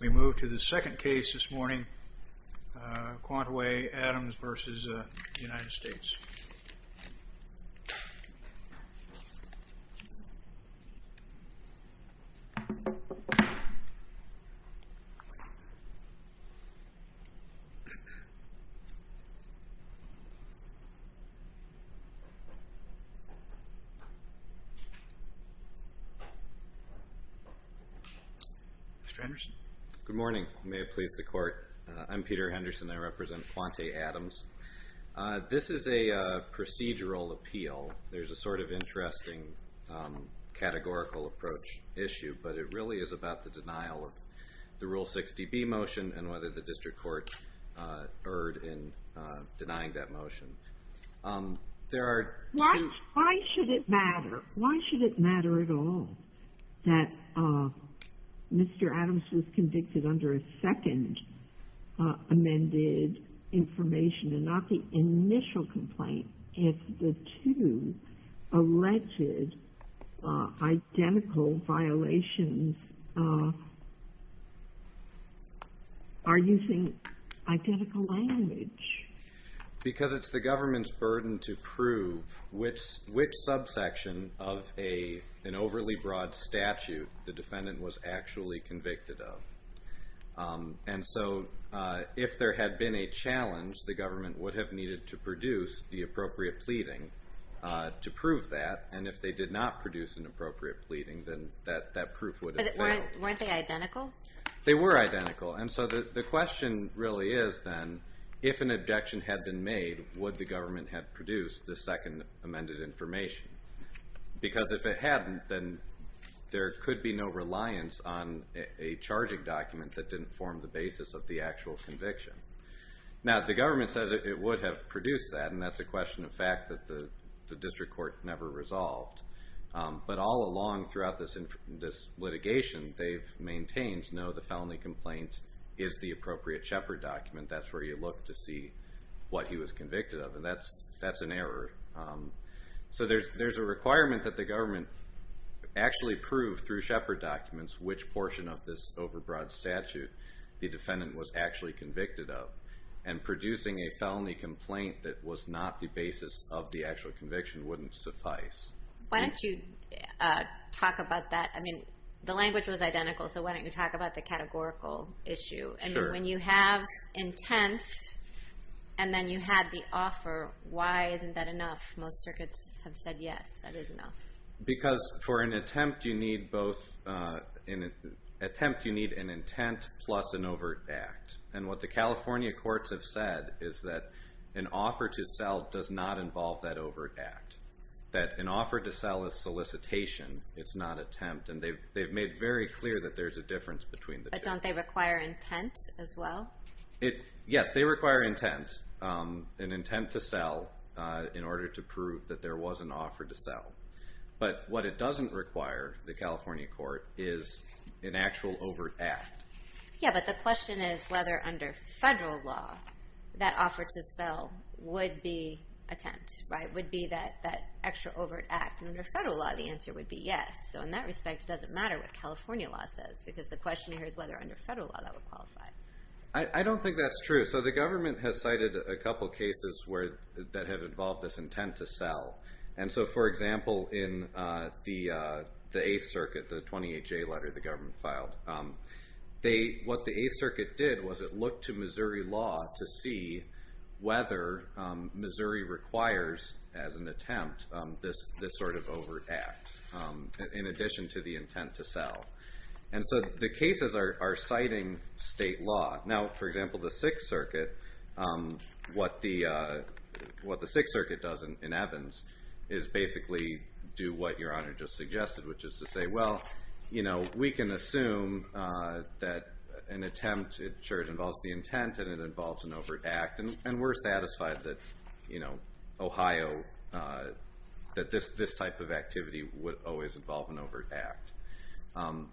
We move to the second case this morning, Quantaway Adams v. United States. Mr. Henderson. Good morning. May it please the Court. I'm Peter Henderson. I represent Quantaway Adams. This is a procedural appeal. There's a sort of interesting categorical approach issue, but it really is about the denial of the Rule 60B motion and whether the district court erred in denying that motion. There are two... Why should it matter? It doesn't matter at all that Mr. Adams was convicted under a second amended information and not the initial complaint if the two alleged identical violations are using identical language. Because it's the government's burden to prove which subsection of an overly broad statute the defendant was actually convicted of. And so if there had been a challenge, the government would have needed to produce the appropriate pleading to prove that. And if they did not produce an appropriate pleading, then that proof would have failed. Weren't they identical? They were identical. And so the question really is, then, if an objection had been made, would the government have produced the second amended information? Because if it hadn't, then there could be no reliance on a charging document that didn't form the basis of the actual conviction. Now, the government says it would have produced that, and that's a question of fact that the district court never resolved. But all along throughout this litigation, they've maintained, no, the felony complaint is the appropriate Shepard document. That's where you look to see what he was convicted of, and that's an error. So there's a requirement that the government actually prove through Shepard documents which portion of this over broad statute the defendant was actually convicted of. And producing a felony complaint that was not the basis of the actual conviction wouldn't suffice. Why don't you talk about that? I mean, the language was identical, so why don't you talk about the categorical issue? And when you have intent, and then you had the offer, why isn't that enough? Most circuits have said yes, that is enough. Because for an attempt, you need both an intent plus an overt act. And what the California courts have said is that an offer to sell does not involve that overt act. That an offer to sell is solicitation, it's not attempt. And they've made very clear that there's a difference between the two. But don't they require intent as well? Yes, they require intent. An intent to sell in order to prove that there was an offer to sell. But what it doesn't require, the California court, is an actual overt act. Yeah, but the question is whether under federal law, that offer to sell would be attempt, right? Would be that extra overt act. And under federal law, the answer would be yes. So in that respect, it doesn't matter what California law says. Because the question here is whether under federal law that would qualify. I don't think that's true. So the government has cited a couple cases that have involved this intent to sell. And so, for example, in the 8th Circuit, the 28-J letter the government filed, what the 8th Circuit did was it looked to Missouri law to see whether Missouri requires, as an attempt, this sort of overt act in addition to the intent to sell. And so the cases are citing state law. Now, for example, the 6th Circuit, what the 6th Circuit does in Evans is basically do what Your Honor just suggested, which is to say, well, we can assume that an attempt, sure, it involves the intent and it involves an overt act. And we're satisfied that Ohio, that this type of activity would always involve an overt act.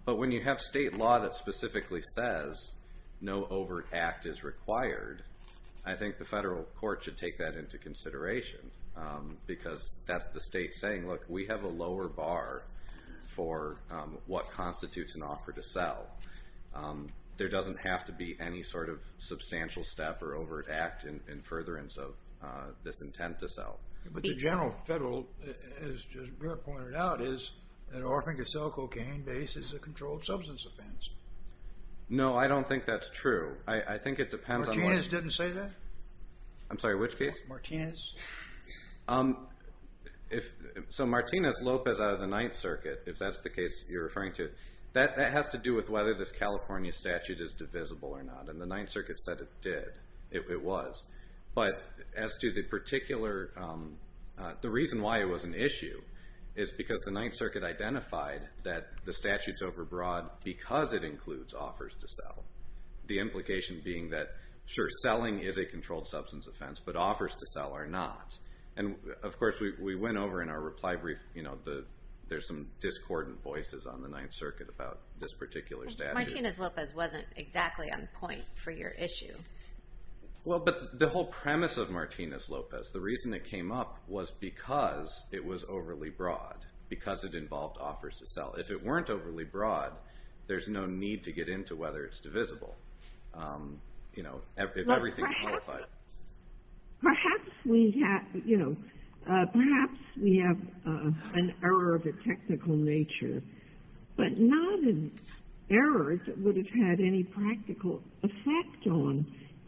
But when you have state law that specifically says no overt act is required, I think the federal court should take that into consideration. Because that's the state saying, look, we have a lower bar for what constitutes an offer to sell. There doesn't have to be any sort of substantial step or overt act in furtherance of this intent to sell. But the general federal, as Brett pointed out, is that offering to sell cocaine based is a controlled substance offense. No, I don't think that's true. I think it depends on what... Martinez didn't say that? I'm sorry, which case? Martinez. So Martinez-Lopez out of the 9th Circuit, if that's the case you're referring to, that has to do with whether this California statute is divisible or not. And the 9th Circuit said it did, it was. But as to the particular... The reason why it was an issue is because the 9th Circuit identified that the statute's overbroad because it includes offers to sell. The implication being that, sure, selling is a controlled substance offense, but offers to sell are not. And, of course, we went over in our reply brief, you know, there's some discordant voices on the 9th Circuit about this particular statute. Martinez-Lopez wasn't exactly on point for your issue. Well, but the whole premise of Martinez-Lopez, the reason it came up was because it was overly broad, because it involved offers to sell. If it weren't overly broad, there's no need to get into whether it's divisible. You know, if everything is qualified. Perhaps we have, you know, perhaps we have an error of a technical nature, but not an error that would have had any practical effect on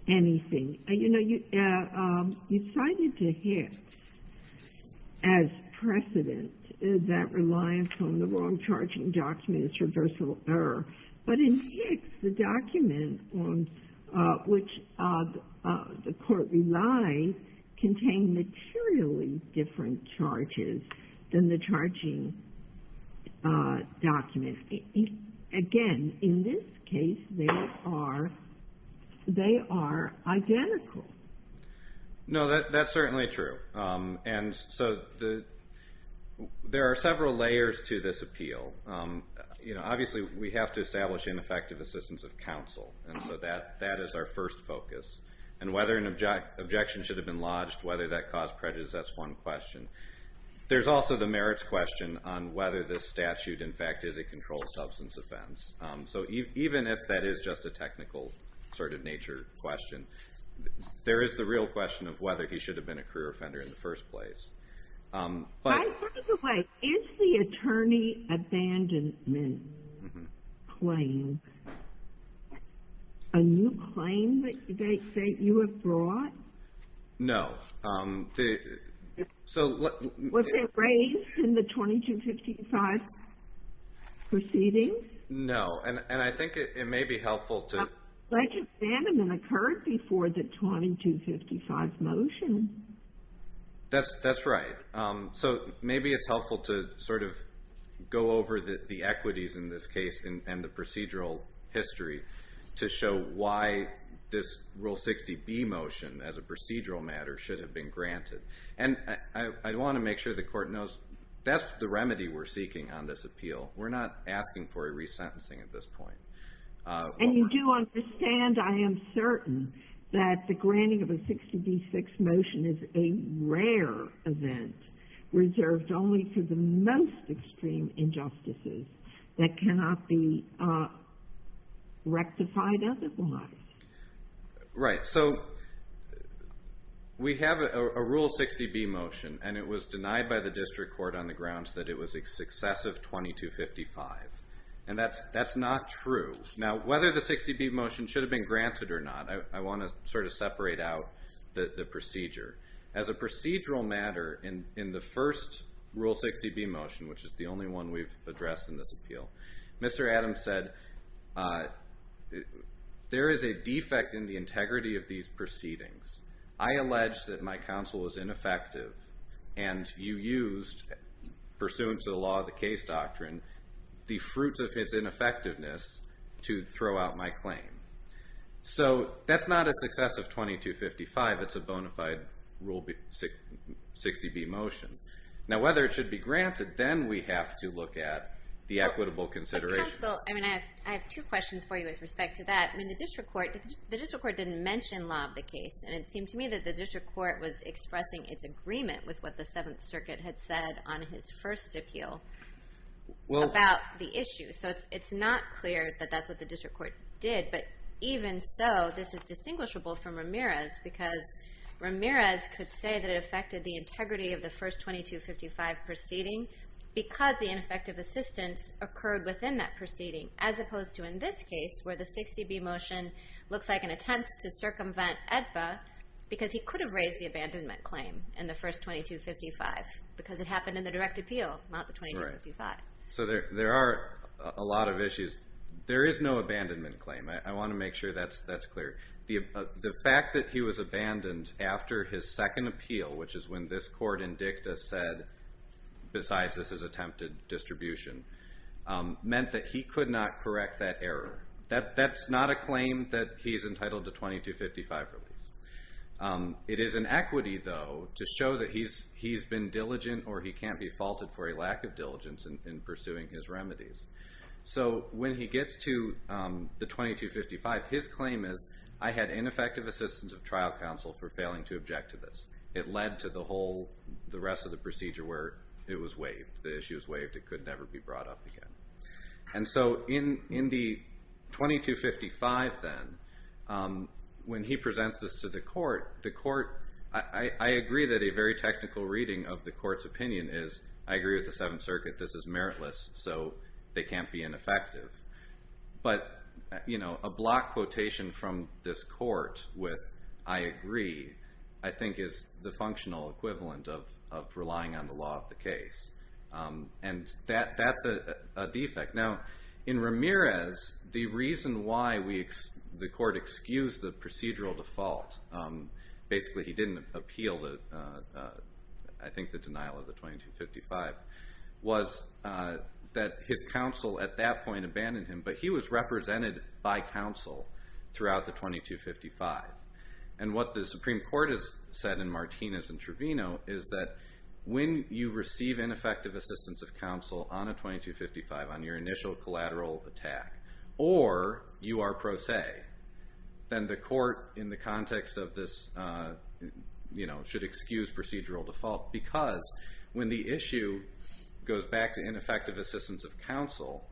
anything. You know, you cited the Hicks as precedent, that reliance on the wrong charging document is reversible error. But in Hicks, the document on which the court relied contained materially different charges than the charging document. Again, in this case, they are identical. No, that's certainly true. And so there are several layers to this appeal. You know, obviously, we have to establish ineffective assistance of counsel. And so that is our first focus. And whether an objection should have been lodged, whether that caused prejudice, that's one question. There's also the merits question on whether this statute, in fact, is a controlled substance offense. So even if that is just a technical sort of nature question, there is the real question of whether he should have been a career offender in the first place. By the way, is the attorney abandonment claim a new claim that you have brought? No. Was it raised in the 2255 proceedings? No. And I think it may be helpful to But the abandonment occurred before the 2255 motion. That's right. So maybe it's helpful to sort of go over the equities in this case and the procedural history to show why this Rule 60B motion, as a procedural matter, should have been granted. And I want to make sure the Court knows that's the remedy we're seeking on this appeal. We're not asking for a resentencing at this point. And you do understand, I am certain, that the granting of a 60B6 motion is a rare event reserved only for the most extreme injustices that cannot be rectified otherwise. Right. So we have a Rule 60B motion, and it was denied by the District Court on the grounds that it was excessive 2255. And that's not true. Now, whether the 60B motion should have been granted or not, I want to sort of separate out the procedure. As a procedural matter, in the first Rule 60B motion, which is the only one we've addressed in this appeal, Mr. Adams said, there is a defect in the integrity of these proceedings. I allege that my counsel was ineffective, and you used, pursuant to the law of the case doctrine, the fruits of his ineffectiveness to throw out my claim. So that's not a successive 2255. It's a bona fide Rule 60B motion. Now, whether it should be granted, then we have to look at the equitable considerations. But, counsel, I mean, I have two questions for you with respect to that. I mean, the District Court didn't mention law of the case, and it seemed to me that the District Court was expressing its agreement with what the Seventh Circuit had said on his first appeal about the issue. So it's not clear that that's what the District Court did. But even so, this is distinguishable from Ramirez, because Ramirez could say that it affected the integrity of the first 2255 proceeding because the ineffective assistance occurred within that proceeding, as opposed to, in this case, where the 60B motion looks like an attempt to circumvent EDPA because he could have raised the abandonment claim in the first 2255 because it happened in the direct appeal, not the 2255. Right. So there are a lot of issues. There is no abandonment claim. I want to make sure that's clear. The fact that he was abandoned after his second appeal, which is when this court in dicta said, besides this is attempted distribution, meant that he could not correct that error. That's not a claim that he's entitled to 2255 relief. It is an equity, though, to show that he's been diligent or he can't be faulted for a lack of diligence in pursuing his remedies. So when he gets to the 2255, his claim is, I had ineffective assistance of trial counsel for failing to object to this. It led to the rest of the procedure where it was waived. The issue was waived. It could never be brought up again. And so in the 2255, then, when he presents this to the court, I agree that a very technical reading of the court's opinion is, I agree with the Seventh Circuit. This is meritless. So they can't be ineffective. But a block quotation from this court with, I agree, I think is the functional equivalent of relying on the law of the case. And that's a defect. Now, in Ramirez, the reason why the court excused the procedural default, basically he didn't appeal, I think, the denial of the 2255, was that his counsel at that point abandoned him. But he was represented by counsel throughout the 2255. And what the Supreme Court has said in Martinez and Trevino is that when you receive ineffective assistance of counsel on a 2255, on your initial collateral attack, or you are pro se, then the court, in the context of this, should excuse procedural default. Because when the issue goes back to ineffective assistance of counsel,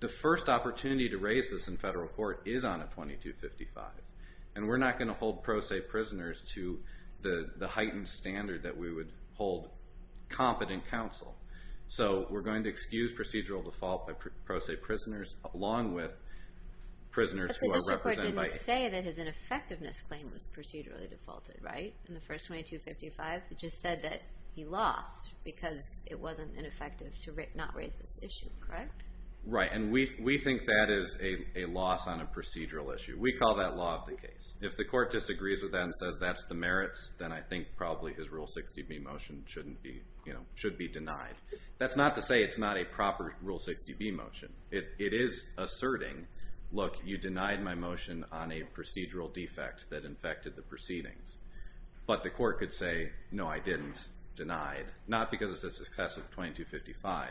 the first opportunity to raise this in federal court is on a 2255. And we're not going to hold pro se prisoners to the heightened standard that we would hold competent counsel. So we're going to excuse procedural default by pro se prisoners, along with prisoners who are represented by counsel. But the district court didn't say that his ineffectiveness claim was procedurally defaulted, right? In the first 2255, it just said that he lost because it wasn't ineffective to not raise this issue, correct? Right, and we think that is a loss on a procedural issue. We call that law of the case. If the court disagrees with that and says that's the merits, then I think probably his Rule 60B motion should be denied. That's not to say it's not a proper Rule 60B motion. It is asserting, look, you denied my motion on a procedural defect that infected the proceedings. But the court could say, no, I didn't, denied, not because it's a success of 2255.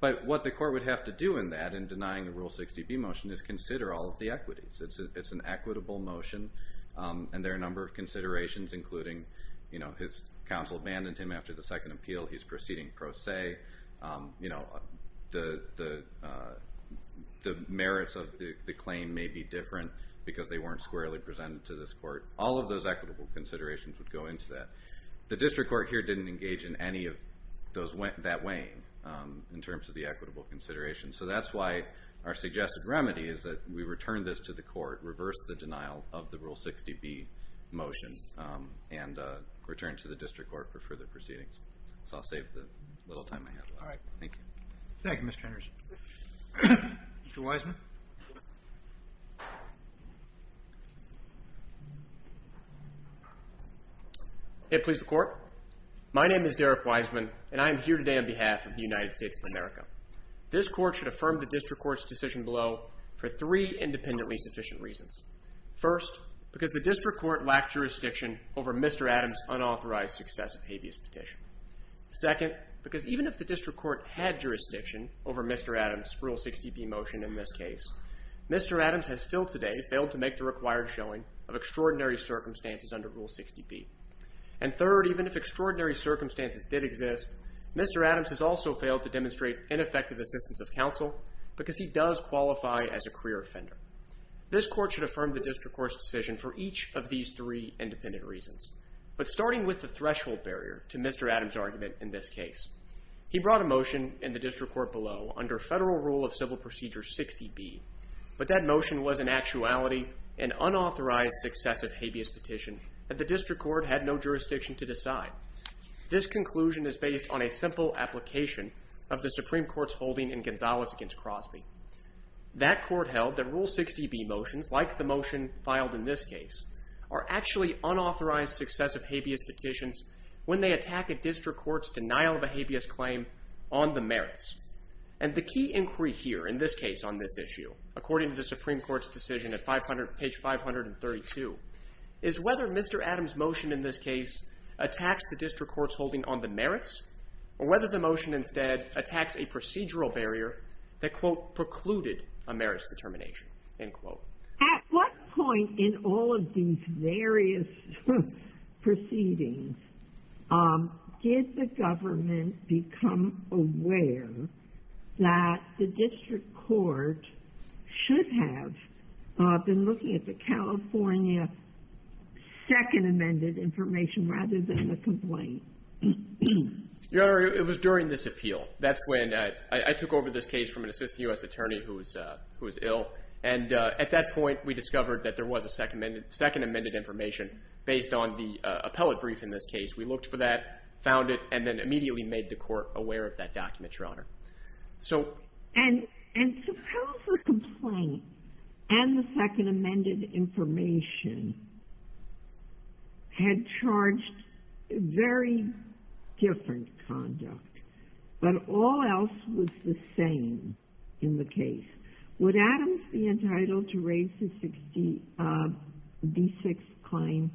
But what the court would have to do in that, in denying the Rule 60B motion, is consider all of the equities. It's an equitable motion, and there are a number of considerations, including his counsel abandoned him after the second appeal. He's proceeding pro se. The merits of the claim may be different because they weren't squarely presented to this court. All of those equitable considerations would go into that. The district court here didn't engage in any of that weighing in terms of the equitable considerations. So that's why our suggested remedy is that we return this to the court, reverse the denial of the Rule 60B motion, and return to the district court for further proceedings. So I'll save the little time I have left. All right, thank you. Thank you, Mr. Henderson. Mr. Wiseman? May it please the court? My name is Derek Wiseman, and I am here today on behalf of the United States of America. This court should affirm the district court's decision below for three independently sufficient reasons. First, because the district court lacked jurisdiction over Mr. Adams' unauthorized successive habeas petition. Second, because even if the district court had jurisdiction over Mr. Adams' Rule 60B motion in this case, Mr. Adams has still today failed to make the required showing of extraordinary circumstances under Rule 60B. And third, even if extraordinary circumstances did exist, Mr. Adams has also failed to demonstrate ineffective assistance of counsel because he does qualify as a career offender. This court should affirm the district court's decision for each of these three independent reasons. But starting with the threshold barrier to Mr. Adams' argument in this case. He brought a motion in the district court below under Federal Rule of Civil Procedure 60B, but that motion was in actuality an unauthorized successive habeas petition that the district court had no jurisdiction to decide. This conclusion is based on a simple application of the Supreme Court's holding in Gonzales against Crosby. That court held that Rule 60B motions, like the motion filed in this case, are actually unauthorized successive habeas petitions when they attack a district court's denial of a habeas claim on the merits. And the key inquiry here, in this case on this issue, according to the Supreme Court's decision at page 532, is whether Mr. Adams' motion in this case attacks the district court's holding on the merits or whether the motion instead attacks a procedural barrier that, quote, precluded a merits determination, end quote. At what point in all of these various proceedings did the government become aware that the district court should have been looking at the California second amended information rather than the complaint? Your Honor, it was during this appeal. That's when I took over this case from an assistant U.S. attorney who was ill. And at that point, we discovered that there was a second amended information based on the appellate brief in this case. We looked for that, found it, and then immediately made the court aware of that document, Your Honor. And suppose the complaint and the second amended information had charged very different conduct, but all else was the same in the case. Would Adams be entitled to raise his D6 claim?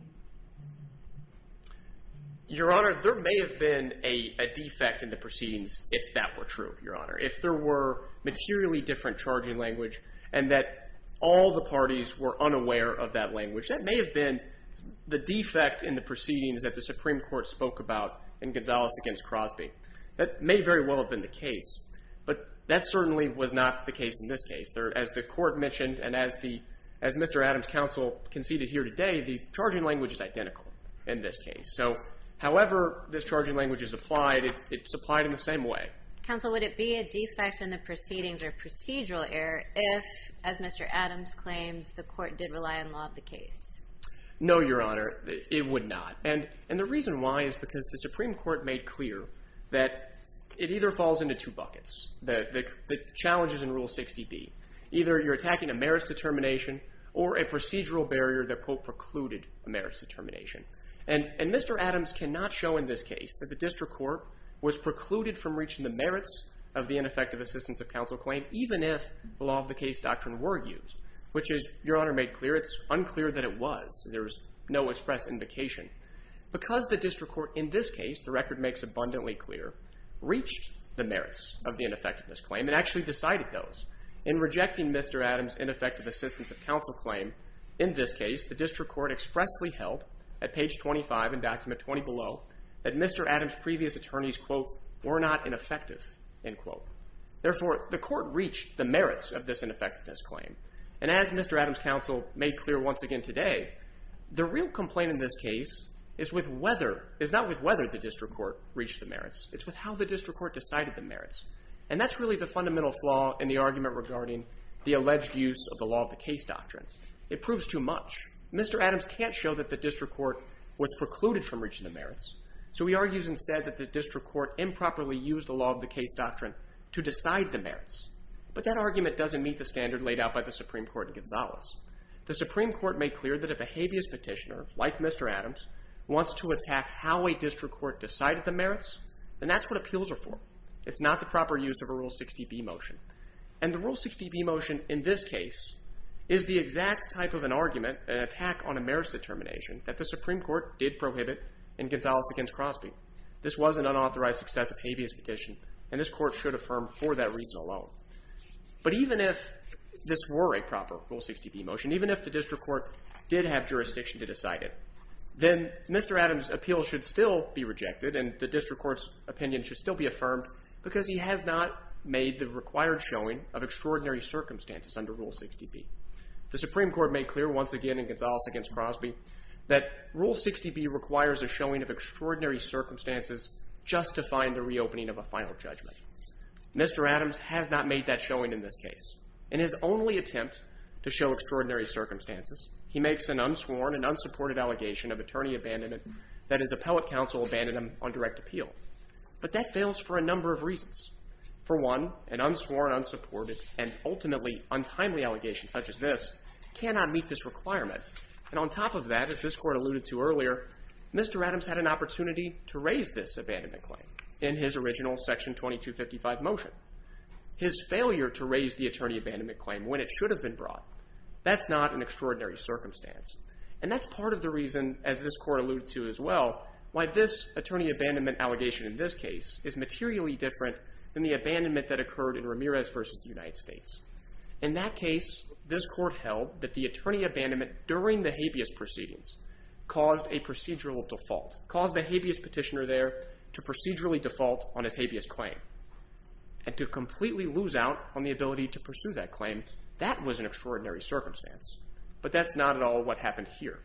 Your Honor, there may have been a defect in the proceedings if that were true, Your Honor, if there were materially different charging language and that all the parties were unaware of that language. That may have been the defect in the proceedings that the Supreme Court spoke about in Gonzales against Crosby. That may very well have been the case, but that certainly was not the case in this case. As the court mentioned and as Mr. Adams' counsel conceded here today, the charging language is identical in this case. So however this charging language is applied, it's applied in the same way. Counsel, would it be a defect in the proceedings or procedural error if, as Mr. Adams claims, the court did rely on law of the case? No, Your Honor, it would not. And the reason why is because the Supreme Court made clear that it either falls into two buckets, the challenges in Rule 60B. Either you're attacking a merits determination or a procedural barrier that, quote, precluded a merits determination. And Mr. Adams cannot show in this case that the district court was precluded from reaching the merits of the ineffective assistance of counsel claim even if the law of the case doctrine were used, which, as Your Honor made clear, it's unclear that it was. There's no express indication. Because the district court in this case, the record makes abundantly clear, reached the merits of the ineffectiveness claim and actually decided those. In rejecting Mr. Adams' ineffective assistance of counsel claim in this case, the district court expressly held at page 25 in document 20 below that Mr. Adams' previous attorneys, quote, were not ineffective, end quote. Therefore, the court reached the merits of this ineffectiveness claim. And as Mr. Adams' counsel made clear once again today, the real complaint in this case is with whether, is not with whether the district court reached the merits, it's with how the district court decided the merits. And that's really the fundamental flaw in the argument regarding the alleged use of the law of the case doctrine. It proves too much. Mr. Adams can't show that the district court was precluded from reaching the merits, so he argues instead that the district court improperly used the law of the case doctrine to decide the merits. But that argument doesn't meet the standard laid out by the Supreme Court in Gonzales. The Supreme Court made clear that if a habeas petitioner, like Mr. Adams, wants to attack how a district court decided the merits, then that's what appeals are for. It's not the proper use of a Rule 60b motion. And the Rule 60b motion in this case is the exact type of an argument, an attack on a merits determination, that the Supreme Court did prohibit in Gonzales against Crosby. This was an unauthorized success of habeas petition, and this court should affirm for that reason alone. But even if this were a proper Rule 60b motion, even if the district court did have jurisdiction to decide it, then Mr. Adams' appeal should still be rejected and the district court's opinion should still be affirmed because he has not made the required showing of extraordinary circumstances under Rule 60b. The Supreme Court made clear once again in Gonzales against Crosby that Rule 60b requires a showing of extraordinary circumstances just to find the reopening of a final judgment. Mr. Adams has not made that showing in this case. In his only attempt to show extraordinary circumstances, he makes an unsworn and unsupported allegation of attorney abandonment that his appellate counsel abandoned him on direct appeal. But that fails for a number of reasons. For one, an unsworn, unsupported, and ultimately untimely allegation such as this cannot meet this requirement. And on top of that, as this court alluded to earlier, Mr. Adams had an opportunity to raise this abandonment claim in his original Section 2255 motion. His failure to raise the attorney abandonment claim when it should have been brought, that's not an extraordinary circumstance. And that's part of the reason, as this court alluded to as well, why this attorney abandonment allegation in this case is materially different than the abandonment that occurred in Ramirez v. United States. In that case, this court held that the attorney abandonment during the habeas proceedings caused a procedural default, caused the habeas petitioner there to procedurally default on his habeas claim. And to completely lose out on the ability to pursue that claim, that was an extraordinary circumstance. But that's not at all what happened here.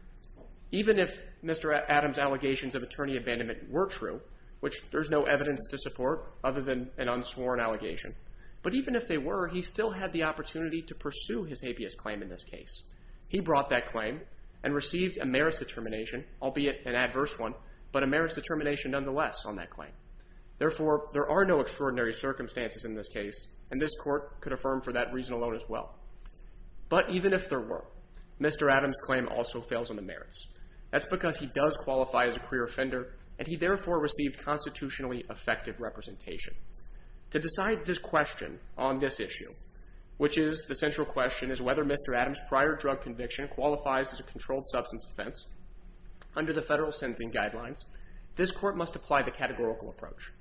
Even if Mr. Adams' allegations of attorney abandonment were true, which there's no evidence to support other than an unsworn allegation, but even if they were, he still had the opportunity to pursue his habeas claim in this case. He brought that claim and received a merits determination, albeit an adverse one, but a merits determination nonetheless on that claim. Therefore, there are no extraordinary circumstances in this case, and this court could affirm for that reason alone as well. But even if there were, Mr. Adams' claim also fails on the merits. That's because he does qualify as a queer offender, and he therefore received constitutionally effective representation. To decide this question on this issue, which is the central question, is whether Mr. Adams' prior drug conviction qualifies as a controlled substance offense, under the federal sentencing guidelines, this court must apply the categorical approach.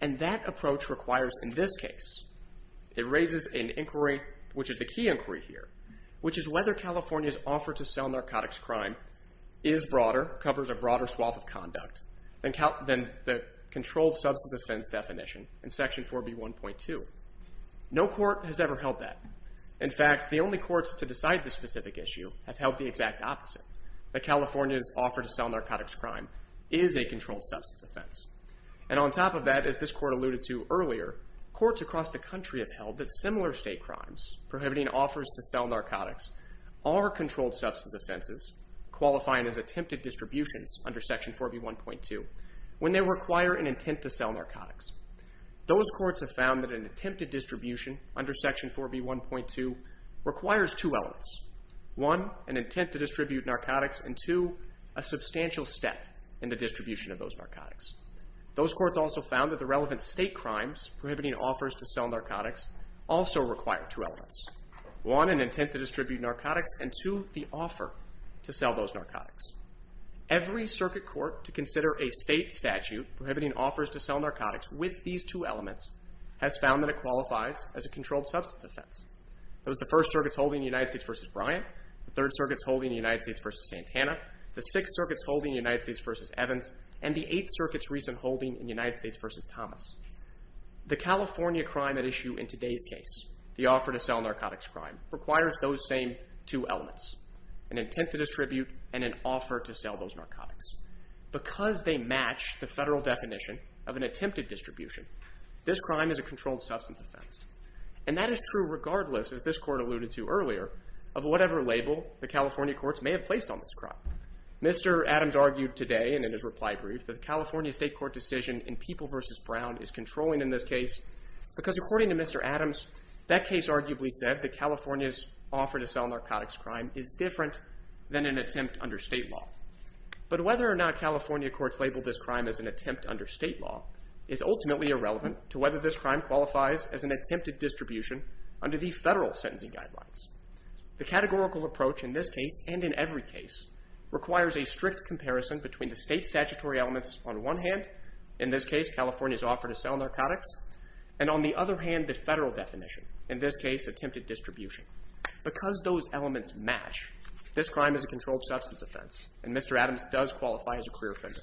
And that approach requires, in this case, it raises an inquiry, which is the key inquiry here, which is whether California's offer to sell narcotics crime is broader, covers a broader swath of conduct, than the controlled substance offense definition in Section 4B1.2. No court has ever held that. In fact, the only courts to decide this specific issue have held the exact opposite, that California's offer to sell narcotics crime is a controlled substance offense. And on top of that, as this court alluded to earlier, courts across the country have held that similar state crimes prohibiting offers to sell narcotics are controlled substance offenses qualifying as attempted distributions under Section 4B1.2 when they require an intent to sell narcotics. Those courts have found that an attempted distribution under Section 4B1.2 requires two elements. One, an intent to distribute narcotics, and two, a substantial step in the distribution of those narcotics. Those courts also found that the relevant state crimes prohibiting offers to sell narcotics also require two elements. One, an intent to distribute narcotics, and two, the offer to sell those narcotics. Every circuit court to consider a state statute prohibiting offers to sell narcotics with these two elements has found that it qualifies as a controlled substance offense. Those are the First Circuit's holding in United States v. Bryant, the Third Circuit's holding in United States v. Santana, the Sixth Circuit's holding in United States v. Evans, and the Eighth Circuit's recent holding in United States v. Thomas. The California crime at issue in today's case, the offer to sell narcotics crime, requires those same two elements, an intent to distribute and an offer to sell those narcotics. Because they match the federal definition of an attempted distribution, this crime is a controlled substance offense. And that is true regardless, as this court alluded to earlier, of whatever label the California courts may have placed on this crime. Mr. Adams argued today, and in his reply brief, that the California state court decision in People v. Brown is controlling in this case because, according to Mr. Adams, that case arguably said that California's offer to sell narcotics crime is different than an attempt under state law. But whether or not California courts label this crime as an attempt under state law is ultimately irrelevant to whether this crime qualifies as an attempted distribution under the federal sentencing guidelines. The categorical approach in this case, and in every case, requires a strict comparison between the state statutory elements on one hand, in this case California's offer to sell narcotics, and on the other hand the federal definition, in this case attempted distribution. Because those elements match, this crime is a controlled substance offense, and Mr. Adams does qualify as a clear offender.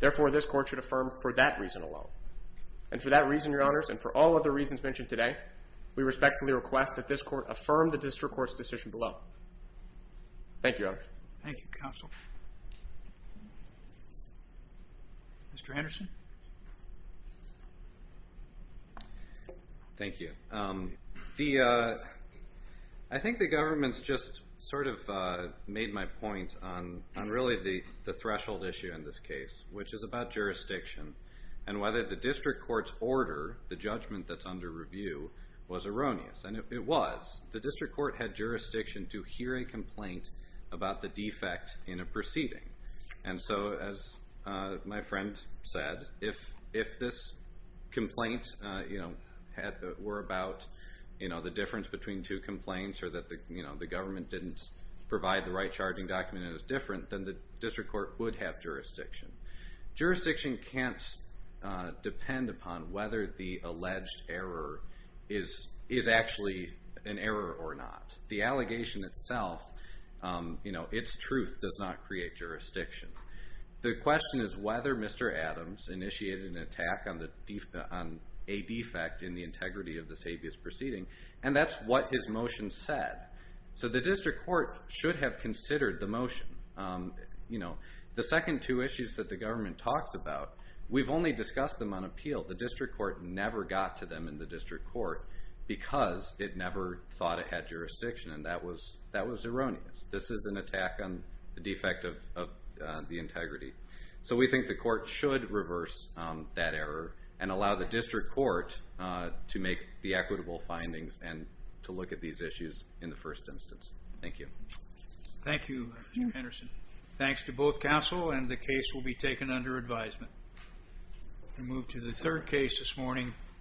Therefore, this court should affirm for that reason alone. And for that reason, Your Honors, and for all other reasons mentioned today, we respectfully request that this court affirm the district court's decision below. Thank you, Your Honors. Thank you, Counsel. Mr. Anderson? Thank you. I think the government's just sort of made my point on really the threshold issue in this case, which is about jurisdiction, and whether the district court's order, the judgment that's under review, was erroneous. And if it was, the district court had jurisdiction to hear a complaint about the defect in a proceeding. And so, as my friend said, if this complaint were about the difference between two complaints, or that the government didn't provide the right charging document and it was different, then the district court would have jurisdiction. Jurisdiction can't depend upon whether the alleged error is actually an error or not. The allegation itself, its truth, does not create jurisdiction. The question is whether Mr. Adams initiated an attack on a defect in the integrity of this habeas proceeding, and that's what his motion said. So the district court should have considered the motion. The second two issues that the government talks about, we've only discussed them on appeal. The district court never got to them in the district court because it never thought it had jurisdiction, and that was erroneous. This is an attack on the defect of the integrity. So we think the court should reverse that error and allow the district court to make the equitable findings and to look at these issues in the first instance. Thank you. Thank you, Mr. Henderson. Thanks to both counsel, and the case will be taken under advisement. We'll move to the third case this morning.